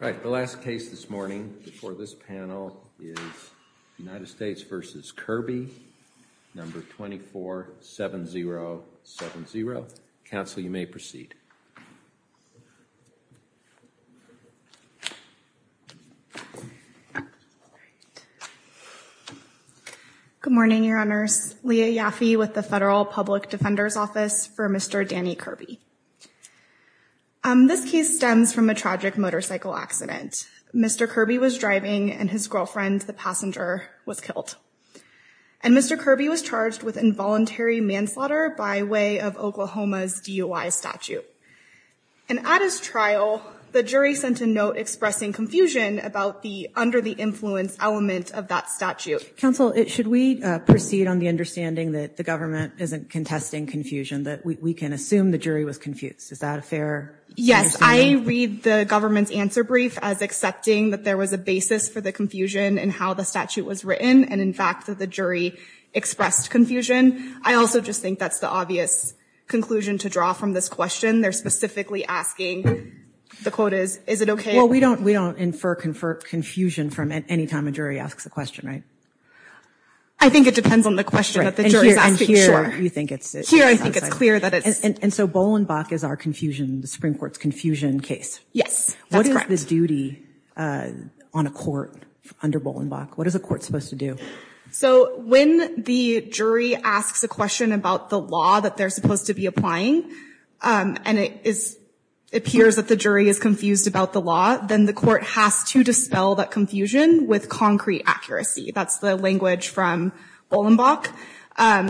No. 247070. Counsel, you may proceed. Good morning, Your Honors. Leah Yaffe with the Federal Public Defender's Office for Mr. Danny Kirby. This case stems from a tragic motorcycle accident. Mr. Kirby was driving and his girlfriend, the passenger, was killed. And Mr. Kirby was charged with involuntary manslaughter by way of Oklahoma's DUI statute. And at his trial, the jury sent a note expressing confusion about the under-the-influence element of that statute. Counsel, should we proceed on the understanding that the government isn't contesting confusion, that we can assume the jury was confused? Is that a fair? Yes. I read the government's answer brief as accepting that there was a basis for the confusion in how the statute was written and, in fact, that the jury expressed confusion. I also just think that's the obvious conclusion to draw from this question. They're specifically asking, the quote is, is it okay? Well, we don't infer confusion from any time a jury asks a question, right? I think it depends on the question that the jury is asking. Here, I think it's clear that it's... And so Bolenbach is our confusion, the Supreme Court's confusion case. Yes. That's correct. What is the duty on a court under Bolenbach? What is a court supposed to do? So when the jury asks a question about the law that they're supposed to be applying, and it appears that the jury is confused about the law, then the court has to dispel that confusion with concrete accuracy. That's the language from Bolenbach.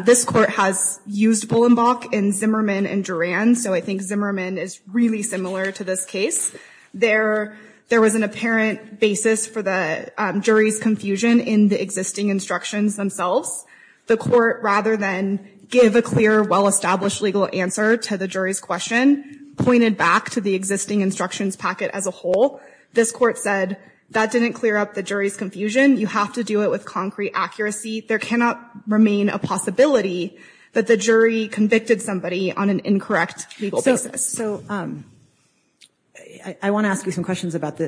This court has used Bolenbach in Zimmerman and Duran, so I think Zimmerman is really similar to this case. There was an apparent basis for the jury's confusion in the existing instructions themselves. The court, rather than give a clear, well-established legal answer to the jury's question, pointed back to the existing instructions packet as a whole. This court said, that didn't clear up the jury's confusion. You have to do it with concrete accuracy. There cannot remain a possibility that the jury convicted somebody on an incorrect legal basis. So I want to ask you some questions about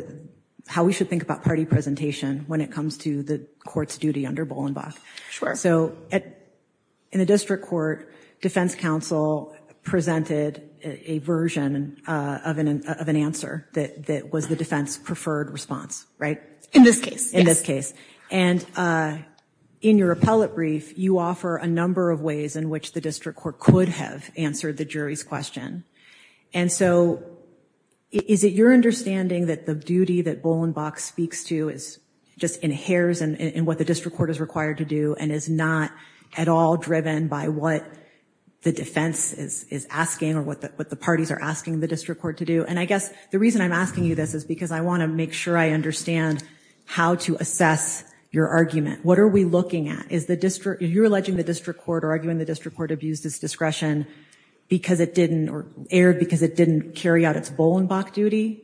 how we should think about party presentation when it comes to the court's duty under Bolenbach. Sure. So in the district court, defense counsel presented a version of an answer that was the defense's preferred response, right? In this case. In this case. And in your appellate brief, you offer a number of ways in which the district court could have answered the jury's question. And so is it your understanding that the duty that Bolenbach speaks to just inheres in what the district court is required to do and is not at all driven by what the defense is asking or what the parties are asking the district court to do? And I guess the reason I'm asking you this is because I want to make sure I understand how to assess your argument. What are we looking at? Is the district, if you're alleging the district court or arguing the district court abused its discretion because it didn't, or erred because it didn't carry out its Bolenbach duty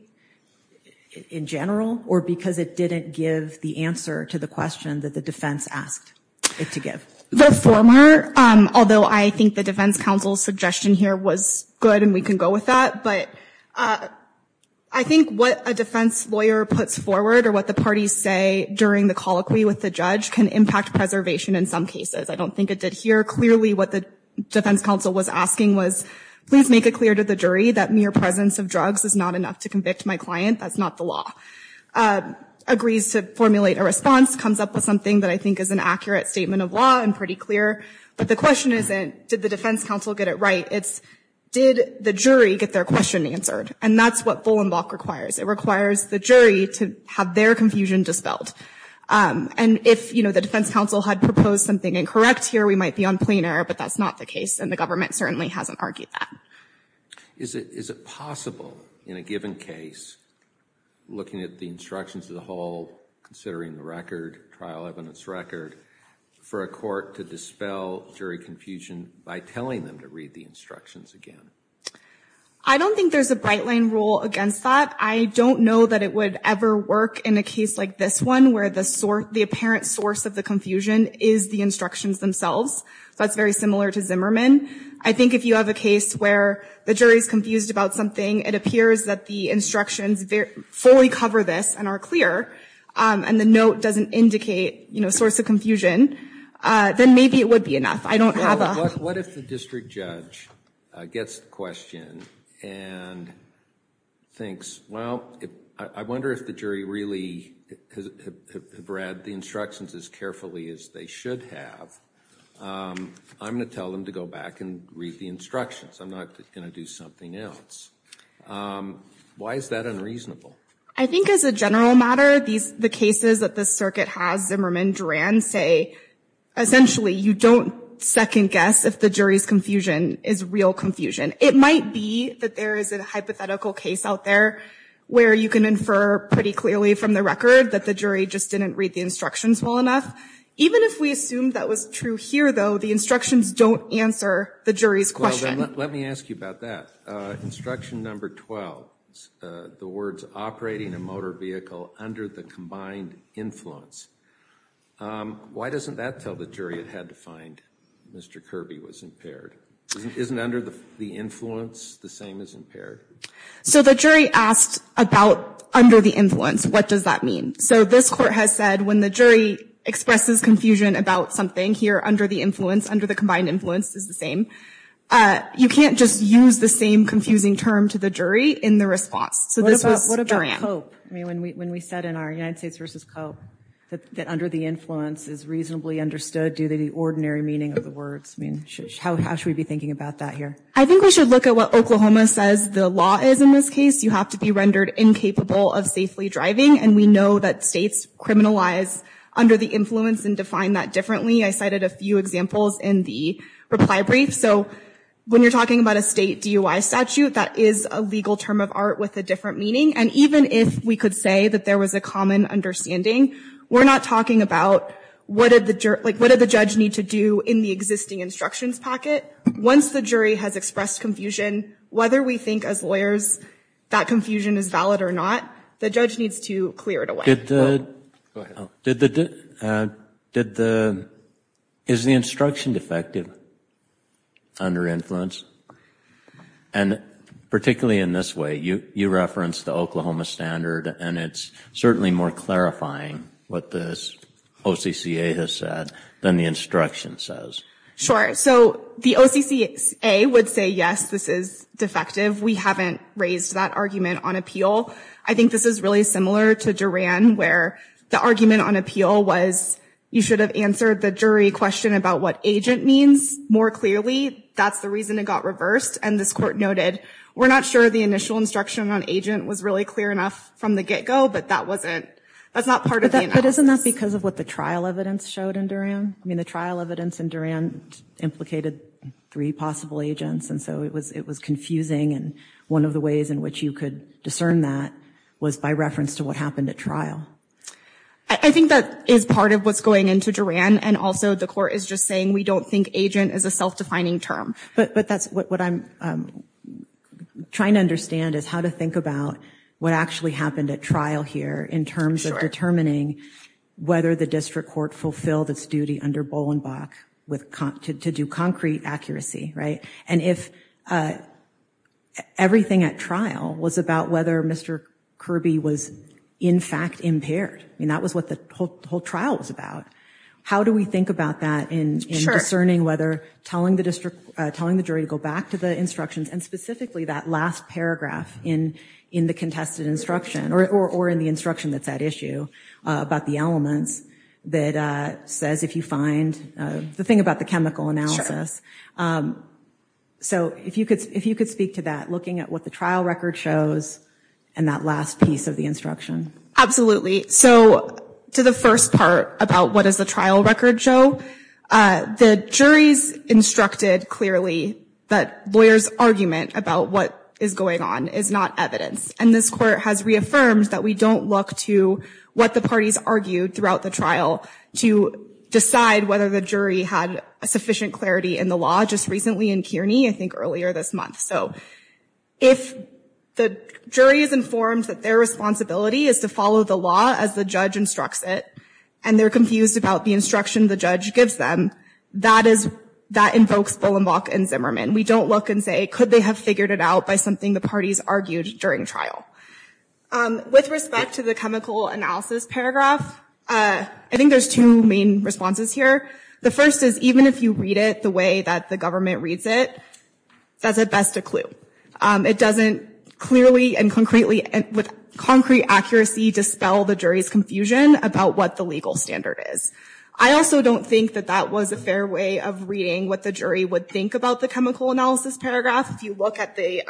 in general, or because it didn't give the answer to the question that the defense asked it to give? The former, although I think the defense counsel's suggestion here was good and we can go with that, but I think what a defense lawyer puts forward or what the parties say during the colloquy with the judge can impact preservation in some cases. I don't think it did here. Clearly what the defense counsel was asking was, please make it clear to the jury that mere presence of drugs is not enough to convict my client. That's not the law. Agrees to formulate a response, comes up with something that I think is an accurate statement of law and pretty clear. But the question isn't, did the defense counsel get it right? It's, did the jury get their question answered? And that's what Bolenbach requires. It requires the jury to have their confusion dispelled. And if, you know, the defense counsel had proposed something incorrect here, we might be on plain error, but that's not the case and the government certainly hasn't argued that. Is it possible in a given case, looking at the instructions of the whole, considering the record, trial evidence record, for a court to dispel jury confusion by telling them to look at the instructions again? I don't think there's a bright line rule against that. I don't know that it would ever work in a case like this one where the apparent source of the confusion is the instructions themselves. So that's very similar to Zimmerman. I think if you have a case where the jury is confused about something, it appears that the instructions fully cover this and are clear and the note doesn't indicate, you know, source of confusion, then maybe it would be enough. I don't have a... What if the district judge gets the question and thinks, well, I wonder if the jury really read the instructions as carefully as they should have. I'm going to tell them to go back and read the instructions. I'm not going to do something else. Why is that unreasonable? I think as a general matter, the cases that the circuit has, Zimmerman, Duran, say essentially you don't second guess if the jury's confusion is real confusion. It might be that there is a hypothetical case out there where you can infer pretty clearly from the record that the jury just didn't read the instructions well enough. Even if we assume that was true here though, the instructions don't answer the jury's question. Let me ask you about that. Instruction number 12, the words operating a motor vehicle under the combined influence. Why doesn't that tell the jury it had to find Mr. Kirby was impaired? Isn't under the influence the same as impaired? So the jury asked about under the influence, what does that mean? So this court has said when the jury expresses confusion about something here under the influence, under the combined influence is the same, you can't just use the same confusing term to the jury in the response. What about cope? When we said in our United States versus cope that under the influence is reasonably understood due to the ordinary meaning of the words. How should we be thinking about that here? I think we should look at what Oklahoma says the law is in this case. You have to be rendered incapable of safely driving and we know that states criminalize under the influence and define that differently. I cited a few examples in the reply brief. So when you're talking about a state DUI statute, that is a legal term of art with a different meaning and even if we could say that there was a common understanding, we're not talking about what did the judge need to do in the existing instructions packet. Once the jury has expressed confusion, whether we think as lawyers that confusion is valid or not, the judge needs to clear it away. Go ahead. Is the instruction defective under influence? And particularly in this way, you referenced the Oklahoma standard and it's certainly more clarifying what the OCCA has said than the instruction says. Sure. So the OCCA would say yes, this is defective. We haven't raised that argument on appeal. I think this is really similar to Duran where the argument on appeal was you should have answered the jury question about what agent means more clearly. That's the reason it got reversed and this court noted we're not sure the initial instruction on agent was really clear enough from the get-go, but that wasn't, that's not part of the analysis. But isn't that because of what the trial evidence showed in Duran? I mean the trial evidence in Duran implicated three possible agents and so it was confusing and one of the ways in which you could discern that was by reference to what happened at trial. I think that is part of what's going into Duran and also the court is just saying we don't think agent is a self-defining term. But that's what I'm trying to understand is how to think about what actually happened at trial here in terms of determining whether the district court fulfilled its duty under Bolenbach to do concrete accuracy, right? And if everything at trial was about whether Mr. Kirby was in fact impaired, I mean that was what the whole trial was about, how do we think about that in discerning whether telling the jury to go back to the instructions and specifically that last paragraph in the contested instruction or in the instruction that's at issue about the elements that says if you find the thing about the chemical analysis. So if you could speak to that, looking at what the trial record shows and that last piece of the instruction. Absolutely. So to the first part about what does the trial record show, the jury's instructed clearly that lawyers' argument about what is going on is not evidence and this court has reaffirmed that we don't look to what the parties argued throughout the trial to decide whether the jury had sufficient clarity in the law just recently in Kearney, I think earlier this month. So if the jury is informed that their responsibility is to follow the law as the judge instructs it, and they're confused about the instruction the judge gives them, that invokes Bolenbach and Zimmerman. We don't look and say could they have figured it out by something the parties argued during trial. With respect to the chemical analysis paragraph, I think there's two main responses here. The first is even if you read it the way that the government reads it, that's at best a clue. It doesn't clearly and concretely and with concrete accuracy dispel the jury's confusion about what the legal standard is. I also don't think that that was a fair way of reading what the jury would think about the chemical analysis paragraph. If you look at the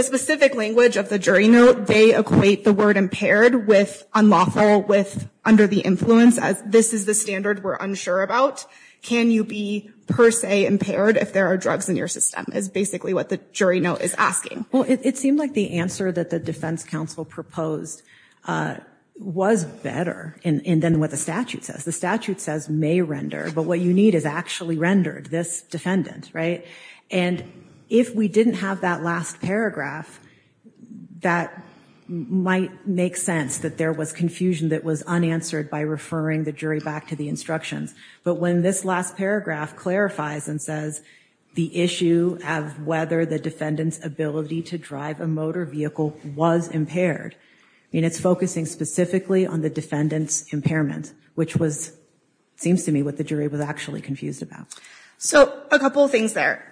specific language of the jury note, they equate the word impaired with unlawful with under the influence as this is the standard we're unsure about. Can you be per se impaired if there are drugs in your system is basically what the jury note is asking. Well, it seemed like the answer that the defense counsel proposed was better and then what the statute says. The statute says may render, but what you need is actually rendered. This defendant, right? And if we didn't have that last paragraph, that might make sense that there was confusion that was unanswered by referring the jury back to the instructions. But when this last paragraph clarifies and says the issue of whether the defendant's ability to drive a motor vehicle was impaired, I mean, it's focusing specifically on the defendant's impairment, which was seems to me what the jury was actually confused about. So a couple of things there.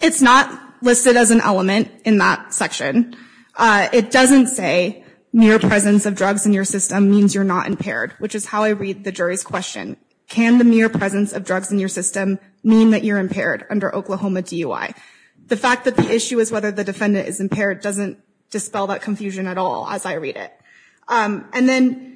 It's not listed as an element in that section. It doesn't say mere presence of drugs in your system means you're not impaired, which is how I read the jury's question. Can the mere presence of drugs in your system mean that you're impaired under Oklahoma DUI? The fact that the issue is whether the defendant is impaired doesn't dispel that confusion at all as I read it. And then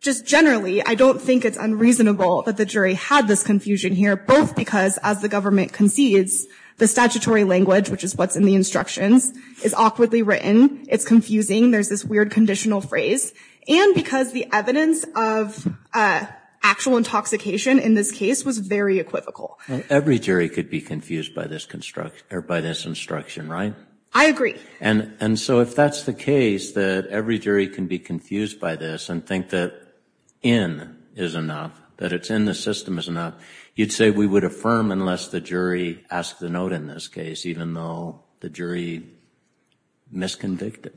just generally, I don't think it's unreasonable that the jury had this confusion here, both because as the government concedes, the statutory language, which is what's in the instructions, is awkwardly written. It's confusing. There's this weird conditional phrase. And because the evidence of actual intoxication in this case was very equivocal. Every jury could be confused by this instruction, right? I agree. And so if that's the case, that every jury can be confused by this and think that in is enough, that it's in the system is enough, you'd say we would affirm unless the jury asked the note in this case, even though the jury misconvicted.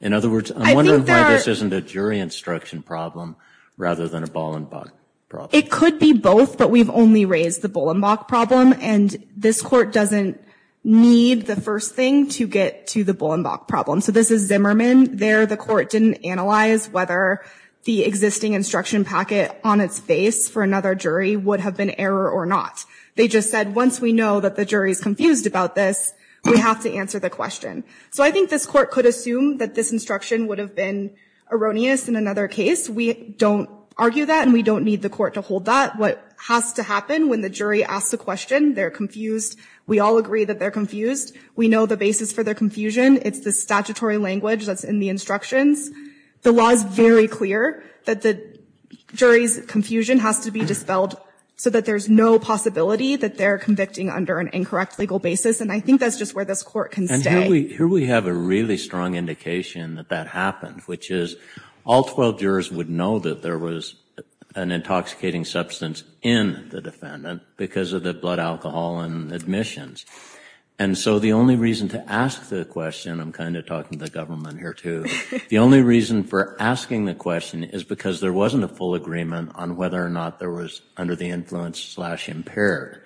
In other words, I'm wondering why this isn't a jury instruction problem rather than a Bollenbach problem. It could be both, but we've only raised the Bollenbach problem. And this Court doesn't need the first thing to get to the Bollenbach problem. So this is Zimmerman. There, the Court didn't analyze whether the existing instruction packet on its face for another jury would have been error or not. They just said, once we know that the jury is confused about this, we have to answer the question. So I think this Court could assume that this instruction would have been erroneous in another case. We don't argue that and we don't need the Court to hold that. What has to happen when the jury asks a question, they're confused. We all agree that they're confused. We know the basis for their confusion. It's the statutory language that's in the instructions. The law is very clear that the jury's confusion has to be dispelled so that there's no possibility that they're convicting under an incorrect legal basis. And I think that's just where this Court can stay. And here we have a really strong indication that that happened, which is all 12 jurors would know that there was an intoxicating substance in the defendant because of the blood alcohol and admissions. And so the only reason to ask the question, I'm kind of talking to the government here too, the only reason for asking the question is because there wasn't a full agreement on whether or not there was under the influence slash impaired.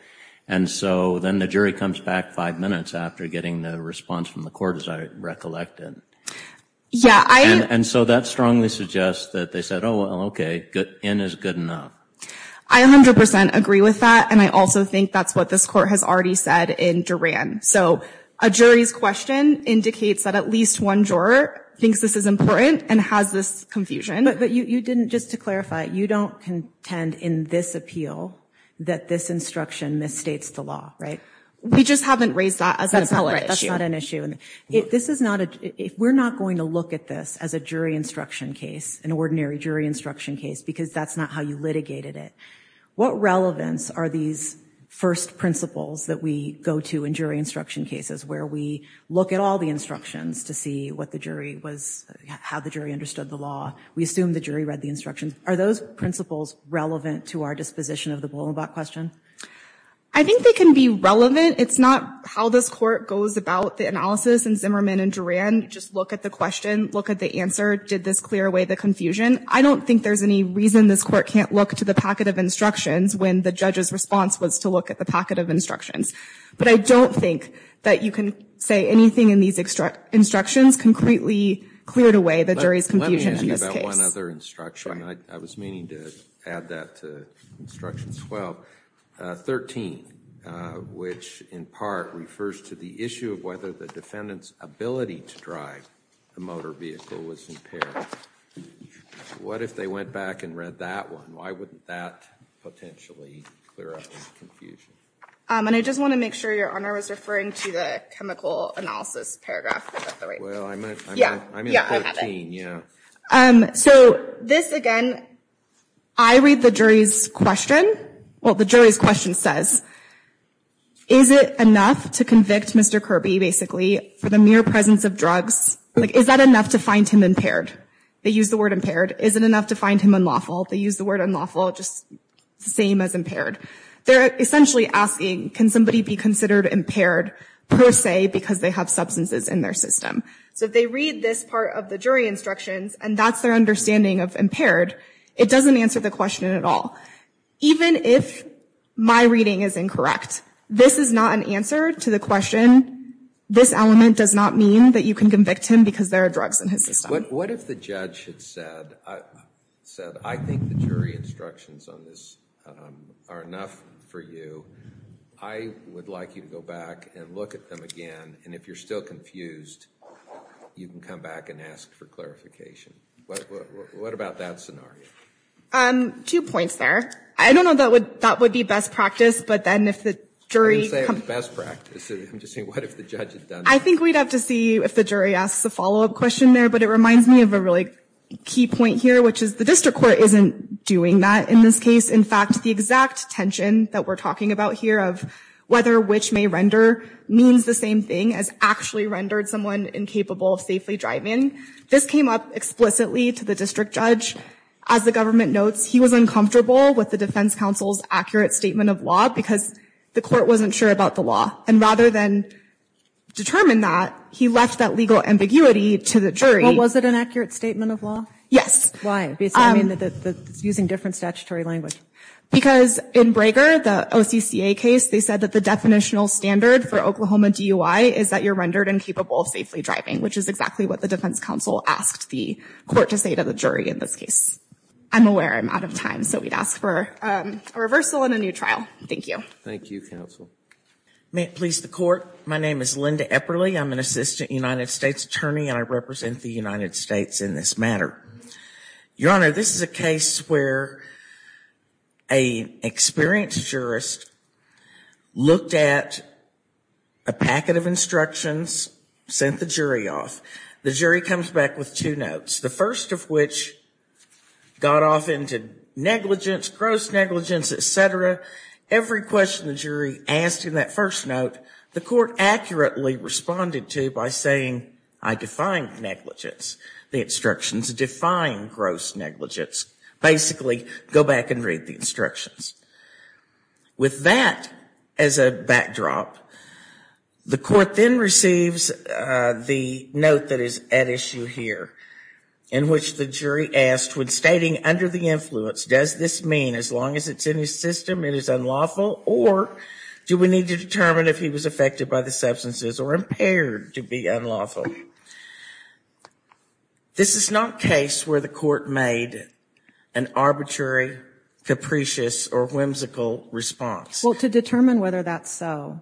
And so then the jury comes back five minutes after getting the response from the Court as I recollected. Yeah, I... And so that strongly suggests that they said, oh, well, okay, in is good enough. I 100% agree with that. And I also think that's what this Court has already said in Duran. So a jury's question indicates that at least one juror thinks this is important and has this confusion. But you didn't, just to clarify, you don't contend in this appeal that this instruction misstates the law, right? We just haven't raised that as an appellate issue. It's not an issue. If this is not, if we're not going to look at this as a jury instruction case, an ordinary jury instruction case, because that's not how you litigated it, what relevance are these first principles that we go to in jury instruction cases where we look at all the instructions to see what the jury was, how the jury understood the law? We assume the jury read the instructions. Are those principles relevant to our disposition of the Blumenbach question? I think they can be relevant. It's not how this Court goes about the analysis in Zimmerman and Duran. Just look at the question, look at the answer. Did this clear away the confusion? I don't think there's any reason this Court can't look to the packet of instructions when the judge's response was to look at the packet of instructions. But I don't think that you can say anything in these instructions concretely cleared away the jury's confusion in this case. I have one other instruction. I was meaning to add that to instruction 12. 13, which in part refers to the issue of whether the defendant's ability to drive a motor vehicle was impaired. What if they went back and read that one? Why wouldn't that potentially clear up the confusion? And I just want to make sure Your Honor was referring to the chemical analysis paragraph, by the way. Well, I'm at 13. Yeah, I have it. So this, again, I read the jury's question. Well, the jury's question says, is it enough to convict Mr. Kirby, basically, for the mere presence of drugs? Like, is that enough to find him impaired? They use the word impaired. Is it enough to find him unlawful? They use the word unlawful, just the same as impaired. They're essentially asking, can somebody be considered impaired per se because they have substances in their system? So they read this part of the jury instructions, and that's their understanding of impaired. It doesn't answer the question at all. Even if my reading is incorrect, this is not an answer to the question. This element does not mean that you can convict him because there are drugs in his system. What if the judge had said, I think the jury instructions on this are enough for you. I would like you to go back and look at them again, and if you're still confused, you can come back and ask for clarification. What about that scenario? Two points there. I don't know if that would be best practice, but then if the jury— I didn't say it was best practice. I'm just saying, what if the judge had done that? I think we'd have to see if the jury asks a follow-up question there, but it reminds me of a really key point here, which is the district court isn't doing that in this case. In fact, the exact tension that we're talking about here of whether which may render means the same thing as actually rendered someone incapable of safely driving, this came up explicitly to the district judge. As the government notes, he was uncomfortable with the defense counsel's accurate statement of law because the court wasn't sure about the law, and rather than determine that, he left that legal ambiguity to the jury. Was it an accurate statement of law? Yes. Why? Using different statutory language. Because in Braeger, the OCCA case, they said that the definitional standard for Oklahoma DUI is that you're rendered incapable of safely driving, which is exactly what the defense counsel asked the court to say to the jury in this case. I'm aware I'm out of time, so we'd ask for a reversal and a new trial. Thank you. Thank you, counsel. May it please the Court, my name is Linda Epperle. I'm an assistant United States attorney and I represent the United States in this matter. Your Honor, this is a case where an experienced jurist looked at a packet of instructions, sent the jury off. The jury comes back with two notes, the first of which got off into negligence, gross negligence, et cetera. Every question the jury asked in that first note, the court accurately responded to by saying, I define negligence. The instructions define gross negligence. Basically, go back and read the instructions. With that as a backdrop, the court then receives the note that is at issue here, in which the jury asked, when stating under the influence, does this mean as long as it's in his system it is unlawful, or do we need to determine if he was affected by the substances or impaired to be unlawful? This is not a case where the court made an arbitrary, capricious, or whimsical response. Well, to determine whether that's so,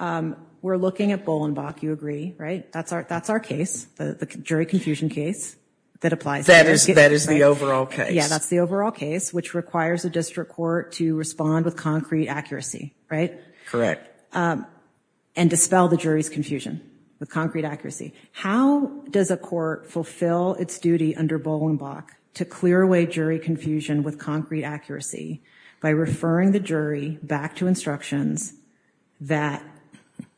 we're looking at Bolenbach, you agree, right? That's our case, the jury confusion case that applies. That is the overall case. Yeah, that's the overall case, which requires a district court to respond with concrete accuracy, right? Correct. And dispel the jury's confusion with concrete accuracy. How does a court fulfill its duty under Bolenbach to clear away jury confusion with concrete accuracy by referring the jury back to instructions that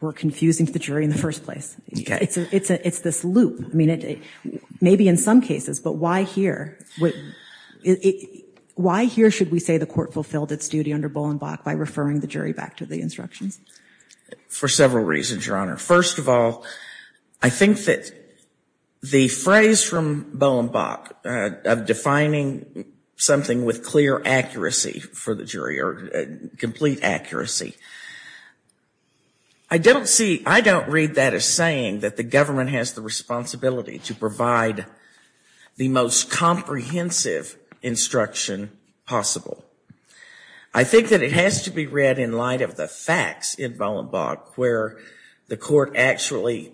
were confusing to the jury in the first place? It's this loop. Maybe in some cases, but why here? Why here should we say the court fulfilled its duty under Bolenbach by referring the jury back to the instructions? For several reasons, Your Honor. First of all, I think that the phrase from Bolenbach of defining something with clear accuracy for the jury, or complete accuracy, I don't see, I don't read that as saying that the government has the responsibility to provide the most comprehensive instruction possible. I think that it has to be read in light of the facts in Bolenbach where the court actually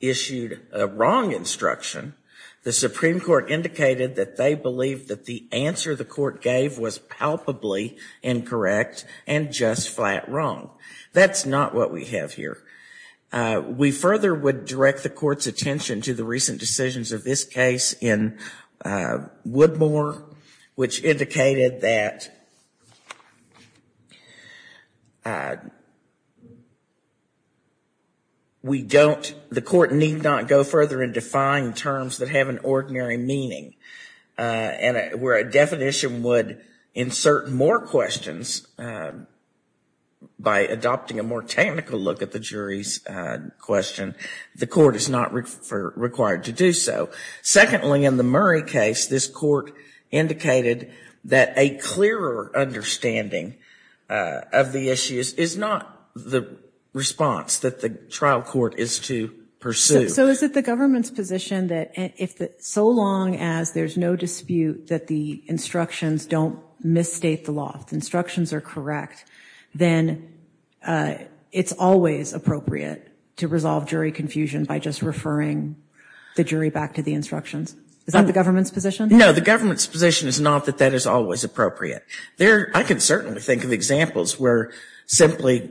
issued a wrong instruction. The Supreme Court indicated that they believed that the answer the court gave was palpably incorrect and just flat wrong. That's not what we have here. We further would direct the court's attention to the recent decisions of this case in Woodmore, which indicated that the court need not go further and define terms that have an ordinary meaning, where a definition would insert more questions by adopting a more technical look at the jury's question. The court is not required to do so. Secondly, in the Murray case, this court indicated that a clearer understanding of the issues is not the response that the trial court is to pursue. So is it the government's position that so long as there's no dispute that the instructions don't misstate the law, the instructions are correct, then it's always appropriate to resolve jury confusion by just referring the jury back to the instructions? Is that the government's position? No, the government's position is not that that is always appropriate. I can certainly think of examples where simply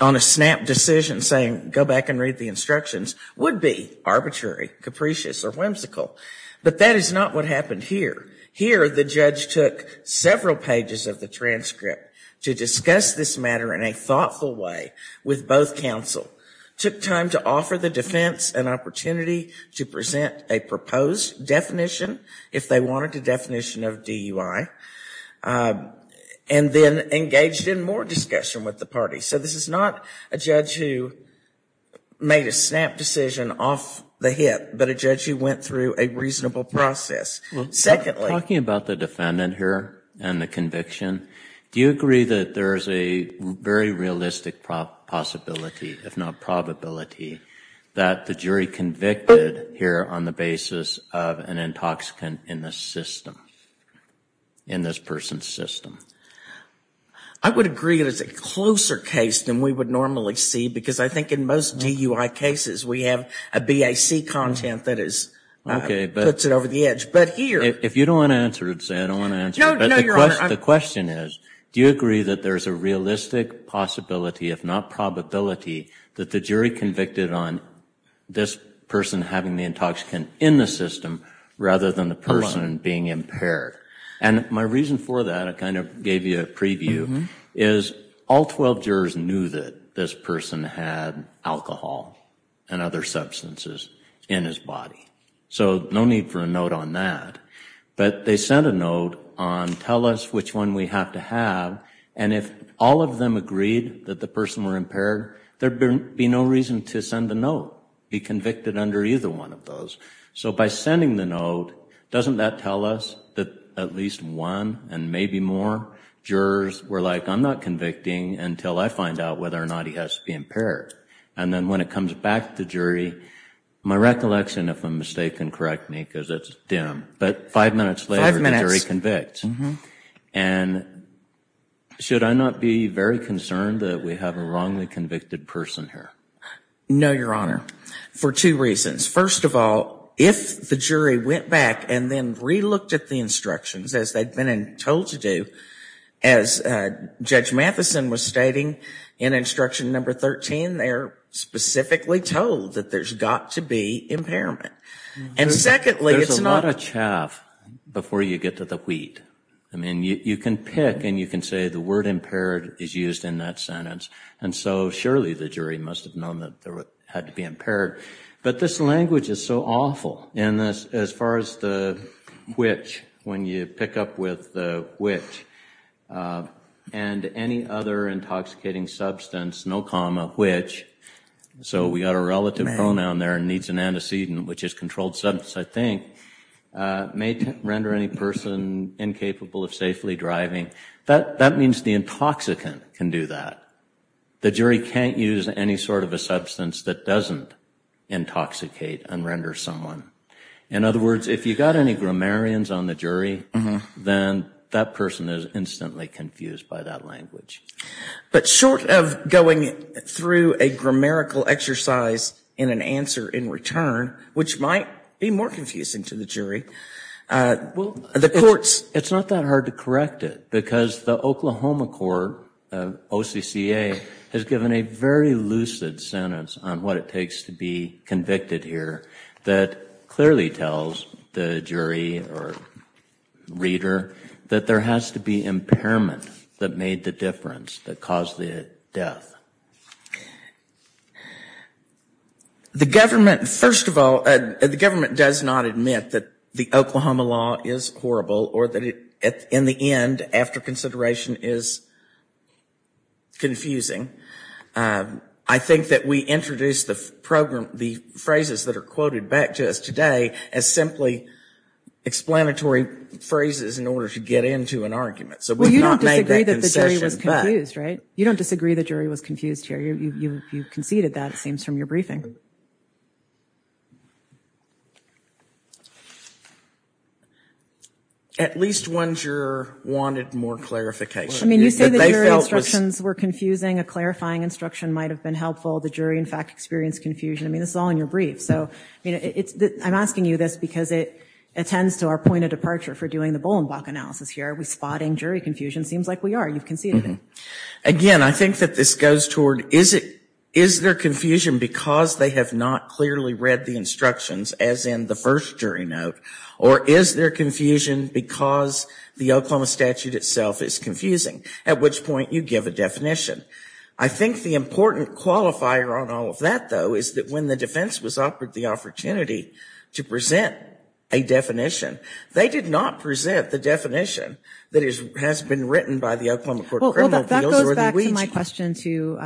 on a snap decision saying go back and read the instructions would be arbitrary, capricious, or whimsical, but that is not what happened here. Here the judge took several pages of the transcript to discuss this matter in a thoughtful way with both counsel, took time to offer the defense an opportunity to present a proposed definition if they wanted a definition of DUI, and then engaged in more discussion with the party. So this is not a judge who made a snap decision off the hip, but a judge who went through a reasonable process. Well, talking about the defendant here and the conviction, do you agree that there is a very realistic possibility, if not probability, that the jury convicted here on the basis of an intoxicant in the system, in this person's system? I would agree it is a closer case than we would normally see because I think in most DUI cases we have a BAC content that puts it over the edge. If you don't want to answer it, say I don't want to answer it, but the question is, do you agree that there is a realistic possibility, if not probability, that the jury convicted on this person having the intoxicant in the system rather than the person being impaired? My reason for that, I kind of gave you a preview, is all 12 jurors knew that this person had alcohol and other substances in his body. So no need for a note on that. But they sent a note on, tell us which one we have to have, and if all of them agreed that the person were impaired, there would be no reason to send a note, be convicted under either one of those. So by sending the note, doesn't that tell us that at least one and maybe more jurors were like, I'm not convicting until I find out whether or not he has to be impaired. And then when it comes back to the jury, my recollection, if I'm mistaken, correct me because it's dim, but five minutes later the jury convicts. And should I not be very concerned that we have a wrongly convicted person here? No, Your Honor. For two reasons. First of all, if the jury went back and then re-looked at the instructions as they had been told to do, as Judge Matheson was stating in instruction number 13, they are specifically told that there's got to be impairment. And secondly, it's not... There's a lot of chaff before you get to the wheat. I mean, you can pick and you can say the word impaired is used in that sentence. And so surely the jury must have known that there had to be impaired. But this language is so awful. And as far as the which, when you pick up with the which, and any other intoxicating substance, no comma, which, so we got a relative pronoun there, needs an antecedent, which is controlled substance, I think, may render any person incapable of safely driving. That means the intoxicant can do that. The jury can't use any sort of a substance that doesn't intoxicate and render someone. In other words, if you got any grammarians on the jury, then that person is instantly confused by that language. But short of going through a grammarical exercise and an answer in return, which might be more confusing to the jury, will the courts... The EPA has given a very lucid sentence on what it takes to be convicted here that clearly tells the jury or reader that there has to be impairment that made the difference, that caused the death. The government, first of all, the government does not admit that the Oklahoma law is horrible or that in the end, after consideration, is confusing. I think that we introduce the phrases that are quoted back to us today as simply explanatory phrases in order to get into an argument. So we've not made that concession. Well, you don't disagree that the jury was confused, right? You don't disagree the jury was confused here. You conceded that, it seems, from your briefing. At least one juror wanted more clarification. I mean, you say that your instructions were confusing. A clarifying instruction might have been helpful. The jury, in fact, experienced confusion. I mean, this is all in your brief. So I'm asking you this because it attends to our point of departure for doing the Bolenbach analysis here. Are we spotting jury confusion? It seems like we are. You've conceded it. Again, I think that this goes toward, is there confusion because they have not clearly read the instructions as in the first jury note? Or is there confusion because the Oklahoma statute itself is confusing? At which point, you give a definition. I think the important qualifier on all of that, though, is that when the defense was offered the opportunity to present a definition, they did not present the definition that has been written by the Oklahoma Court of Criminals. Well, that goes back to my question to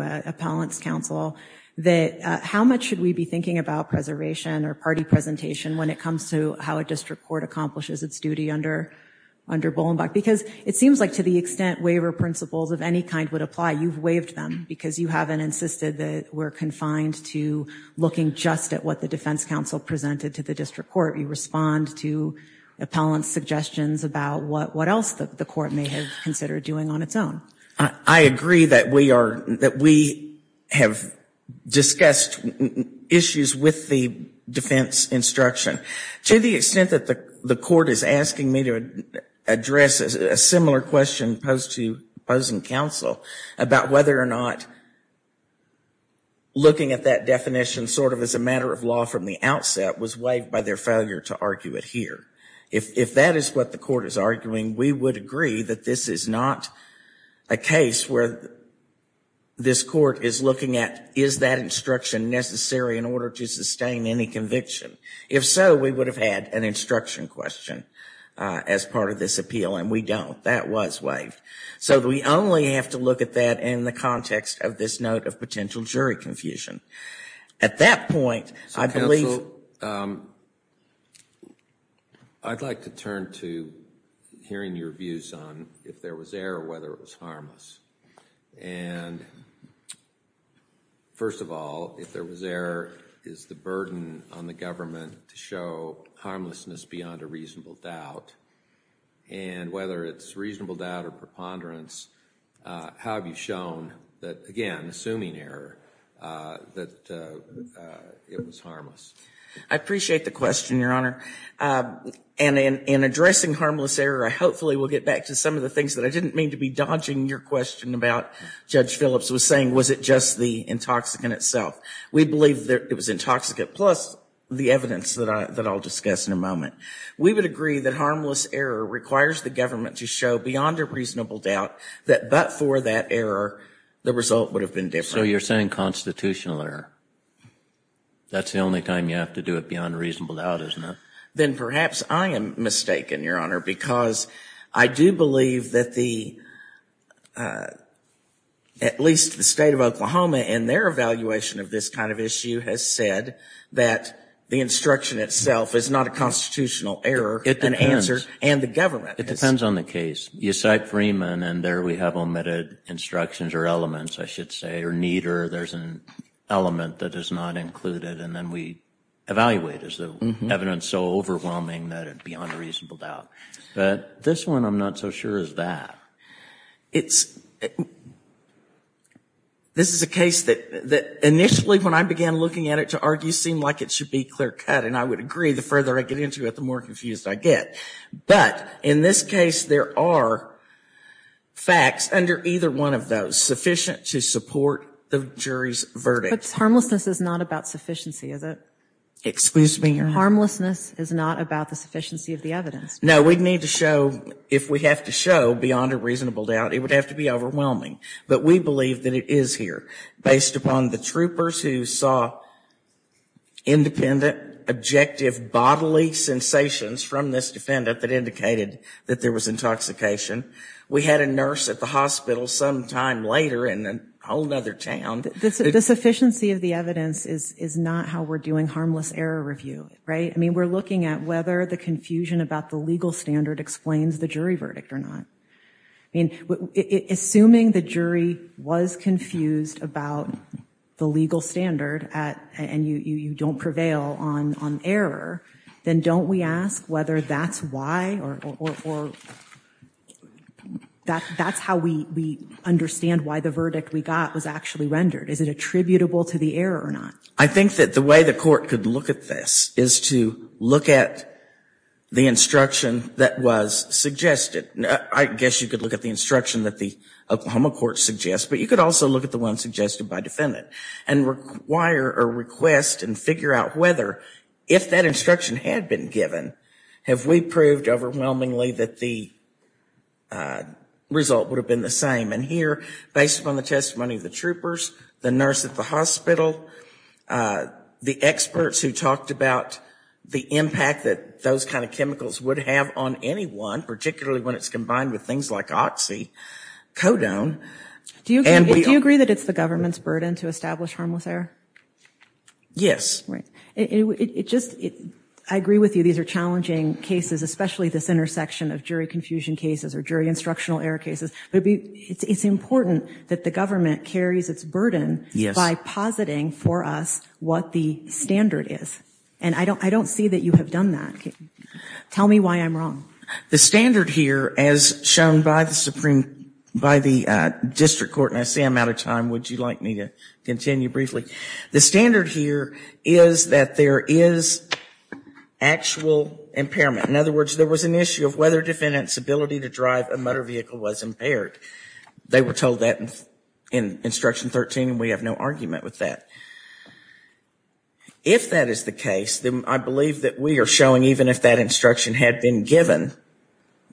Appellant's counsel. That how much should we be thinking about preservation or party presentation when it comes to how a district court accomplishes its duty under Bolenbach? Because it seems like to the extent waiver principles of any kind would apply, you've waived them because you haven't insisted that we're confined to looking just at what the defense counsel presented to the district court. You respond to Appellant's suggestions about what else the court may have considered doing on its own. I agree that we have discussed issues with the defense instruction. To the extent that the court is asking me to address a similar question posed to opposing counsel about whether or not looking at that definition sort of as a matter of law from the outset was waived by their failure to argue it here. If that is what the court is arguing, we would agree that this is not a case where this court is looking at is that instruction necessary in order to sustain any conviction. If so, we would have had an instruction question as part of this appeal, and we don't. That was waived. So we only have to look at that in the context of this note of potential jury confusion. At that point, I'd like to turn to hearing your views on if there was error or whether it was harmless. First of all, if there was error, is the burden on the government to show harmlessness beyond a reasonable doubt, and whether it's reasonable doubt or preponderance, how have you shown that, again, assuming error, that it was harmless? I appreciate the question, Your Honor. And in addressing harmless error, I hopefully will get back to some of the things that I didn't mean to be dodging your question about, Judge Phillips was saying, was it just the intoxicant itself. We believe that it was intoxicant, plus the evidence that I'll discuss in a moment. We would agree that harmless error requires the government to show beyond a reasonable doubt, that but for that error, the result would have been different. So you're saying constitutional error. That's the only time you have to do it beyond a reasonable doubt, isn't it? Then perhaps I am mistaken, Your Honor, because I do believe that the, at least the State of Oklahoma in their evaluation of this kind of issue has said that the instruction itself is not a constitutional error. It depends. And the government is. It depends on the case. You cite Freeman, and there we have omitted instructions or elements, I should say, or neither. There's an element that is not included, and then we evaluate. Is the evidence so overwhelming that it's beyond a reasonable doubt? But this one I'm not so sure is that. It's, this is a case that initially when I began looking at it to argue, seemed like it should be clear cut. And I would agree. The further I get into it, the more confused I get. But in this case, there are facts under either one of those sufficient to support the jury's verdict. But harmlessness is not about sufficiency, is it? Excuse me, Your Honor. Harmlessness is not about the sufficiency of the evidence. No, we'd need to show, if we have to show beyond a reasonable doubt, it would have to be overwhelming. But we believe that it is here, based upon the troopers who saw independent, objective, bodily sensations from this defendant that indicated that there was intoxication. We had a nurse at the hospital sometime later in a whole other town. The sufficiency of the evidence is not how we're doing harmless error review, right? I mean, we're looking at whether the confusion about the legal standard explains the jury verdict or not. I mean, assuming the jury was confused about the legal standard and you don't prevail on error, then don't we ask whether that's why or that's how we understand why the verdict we got was actually rendered? Is it attributable to the error or not? I think that the way the court could look at this is to look at the instruction that was suggested. I guess you could look at the instruction that the Oklahoma court suggests, but you could also look at the one suggested by defendant and require or request and figure out whether, if that instruction had been given, have we proved overwhelmingly that the result would have been the same. And here, based upon the testimony of the troopers, the nurse at the hospital, the experts who talked about the impact that those kind of chemicals would have on anyone, particularly when it's combined with things like oxycodone. Do you agree that it's the government's burden to establish harmless error? Yes. Right. I agree with you. These are challenging cases, especially this intersection of jury confusion cases or jury instructional error cases. But it's important that the government carries its burden by positing for us what the standard is. And I don't see that you have done that. Tell me why I'm wrong. The standard here, as shown by the district court, and I see I'm out of time. Would you like me to continue briefly? The standard here is that there is actual impairment. In other words, there was an issue of whether defendant's ability to drive a motor vehicle was impaired. They were told that in Instruction 13, and we have no argument with that. If that is the case, then I believe that we are showing even if that instruction had been given,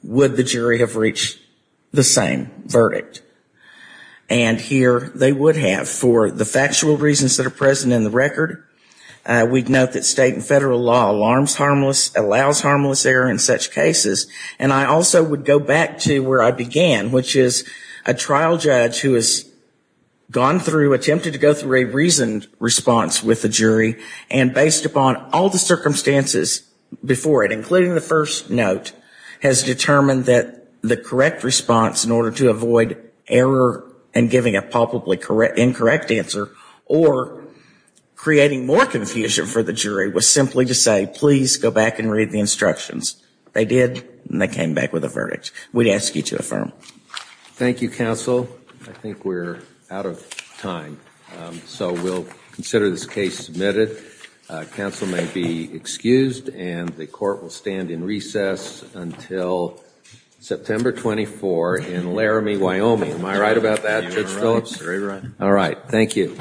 would the jury have reached the same verdict? And here they would have for the factual reasons that are present in the record. We'd note that state and federal law allows harmless error in such cases. And I also would go back to where I began, which is a trial judge who has gone through, attempted to go through a reasoned response with the jury, and based upon all the circumstances before it, including the first note, has determined that the correct response in order to avoid error and giving a palpably incorrect answer, or creating more confusion for the jury, was simply to say, please go back and read the instructions. They did, and they came back with a verdict. We'd ask you to affirm. Thank you, counsel. I think we're out of time, so we'll consider this case submitted. Counsel may be excused, and the court will stand in recess until September 24 in Laramie, Wyoming. Am I right about that, Judge Phillips? Very right. All right, thank you.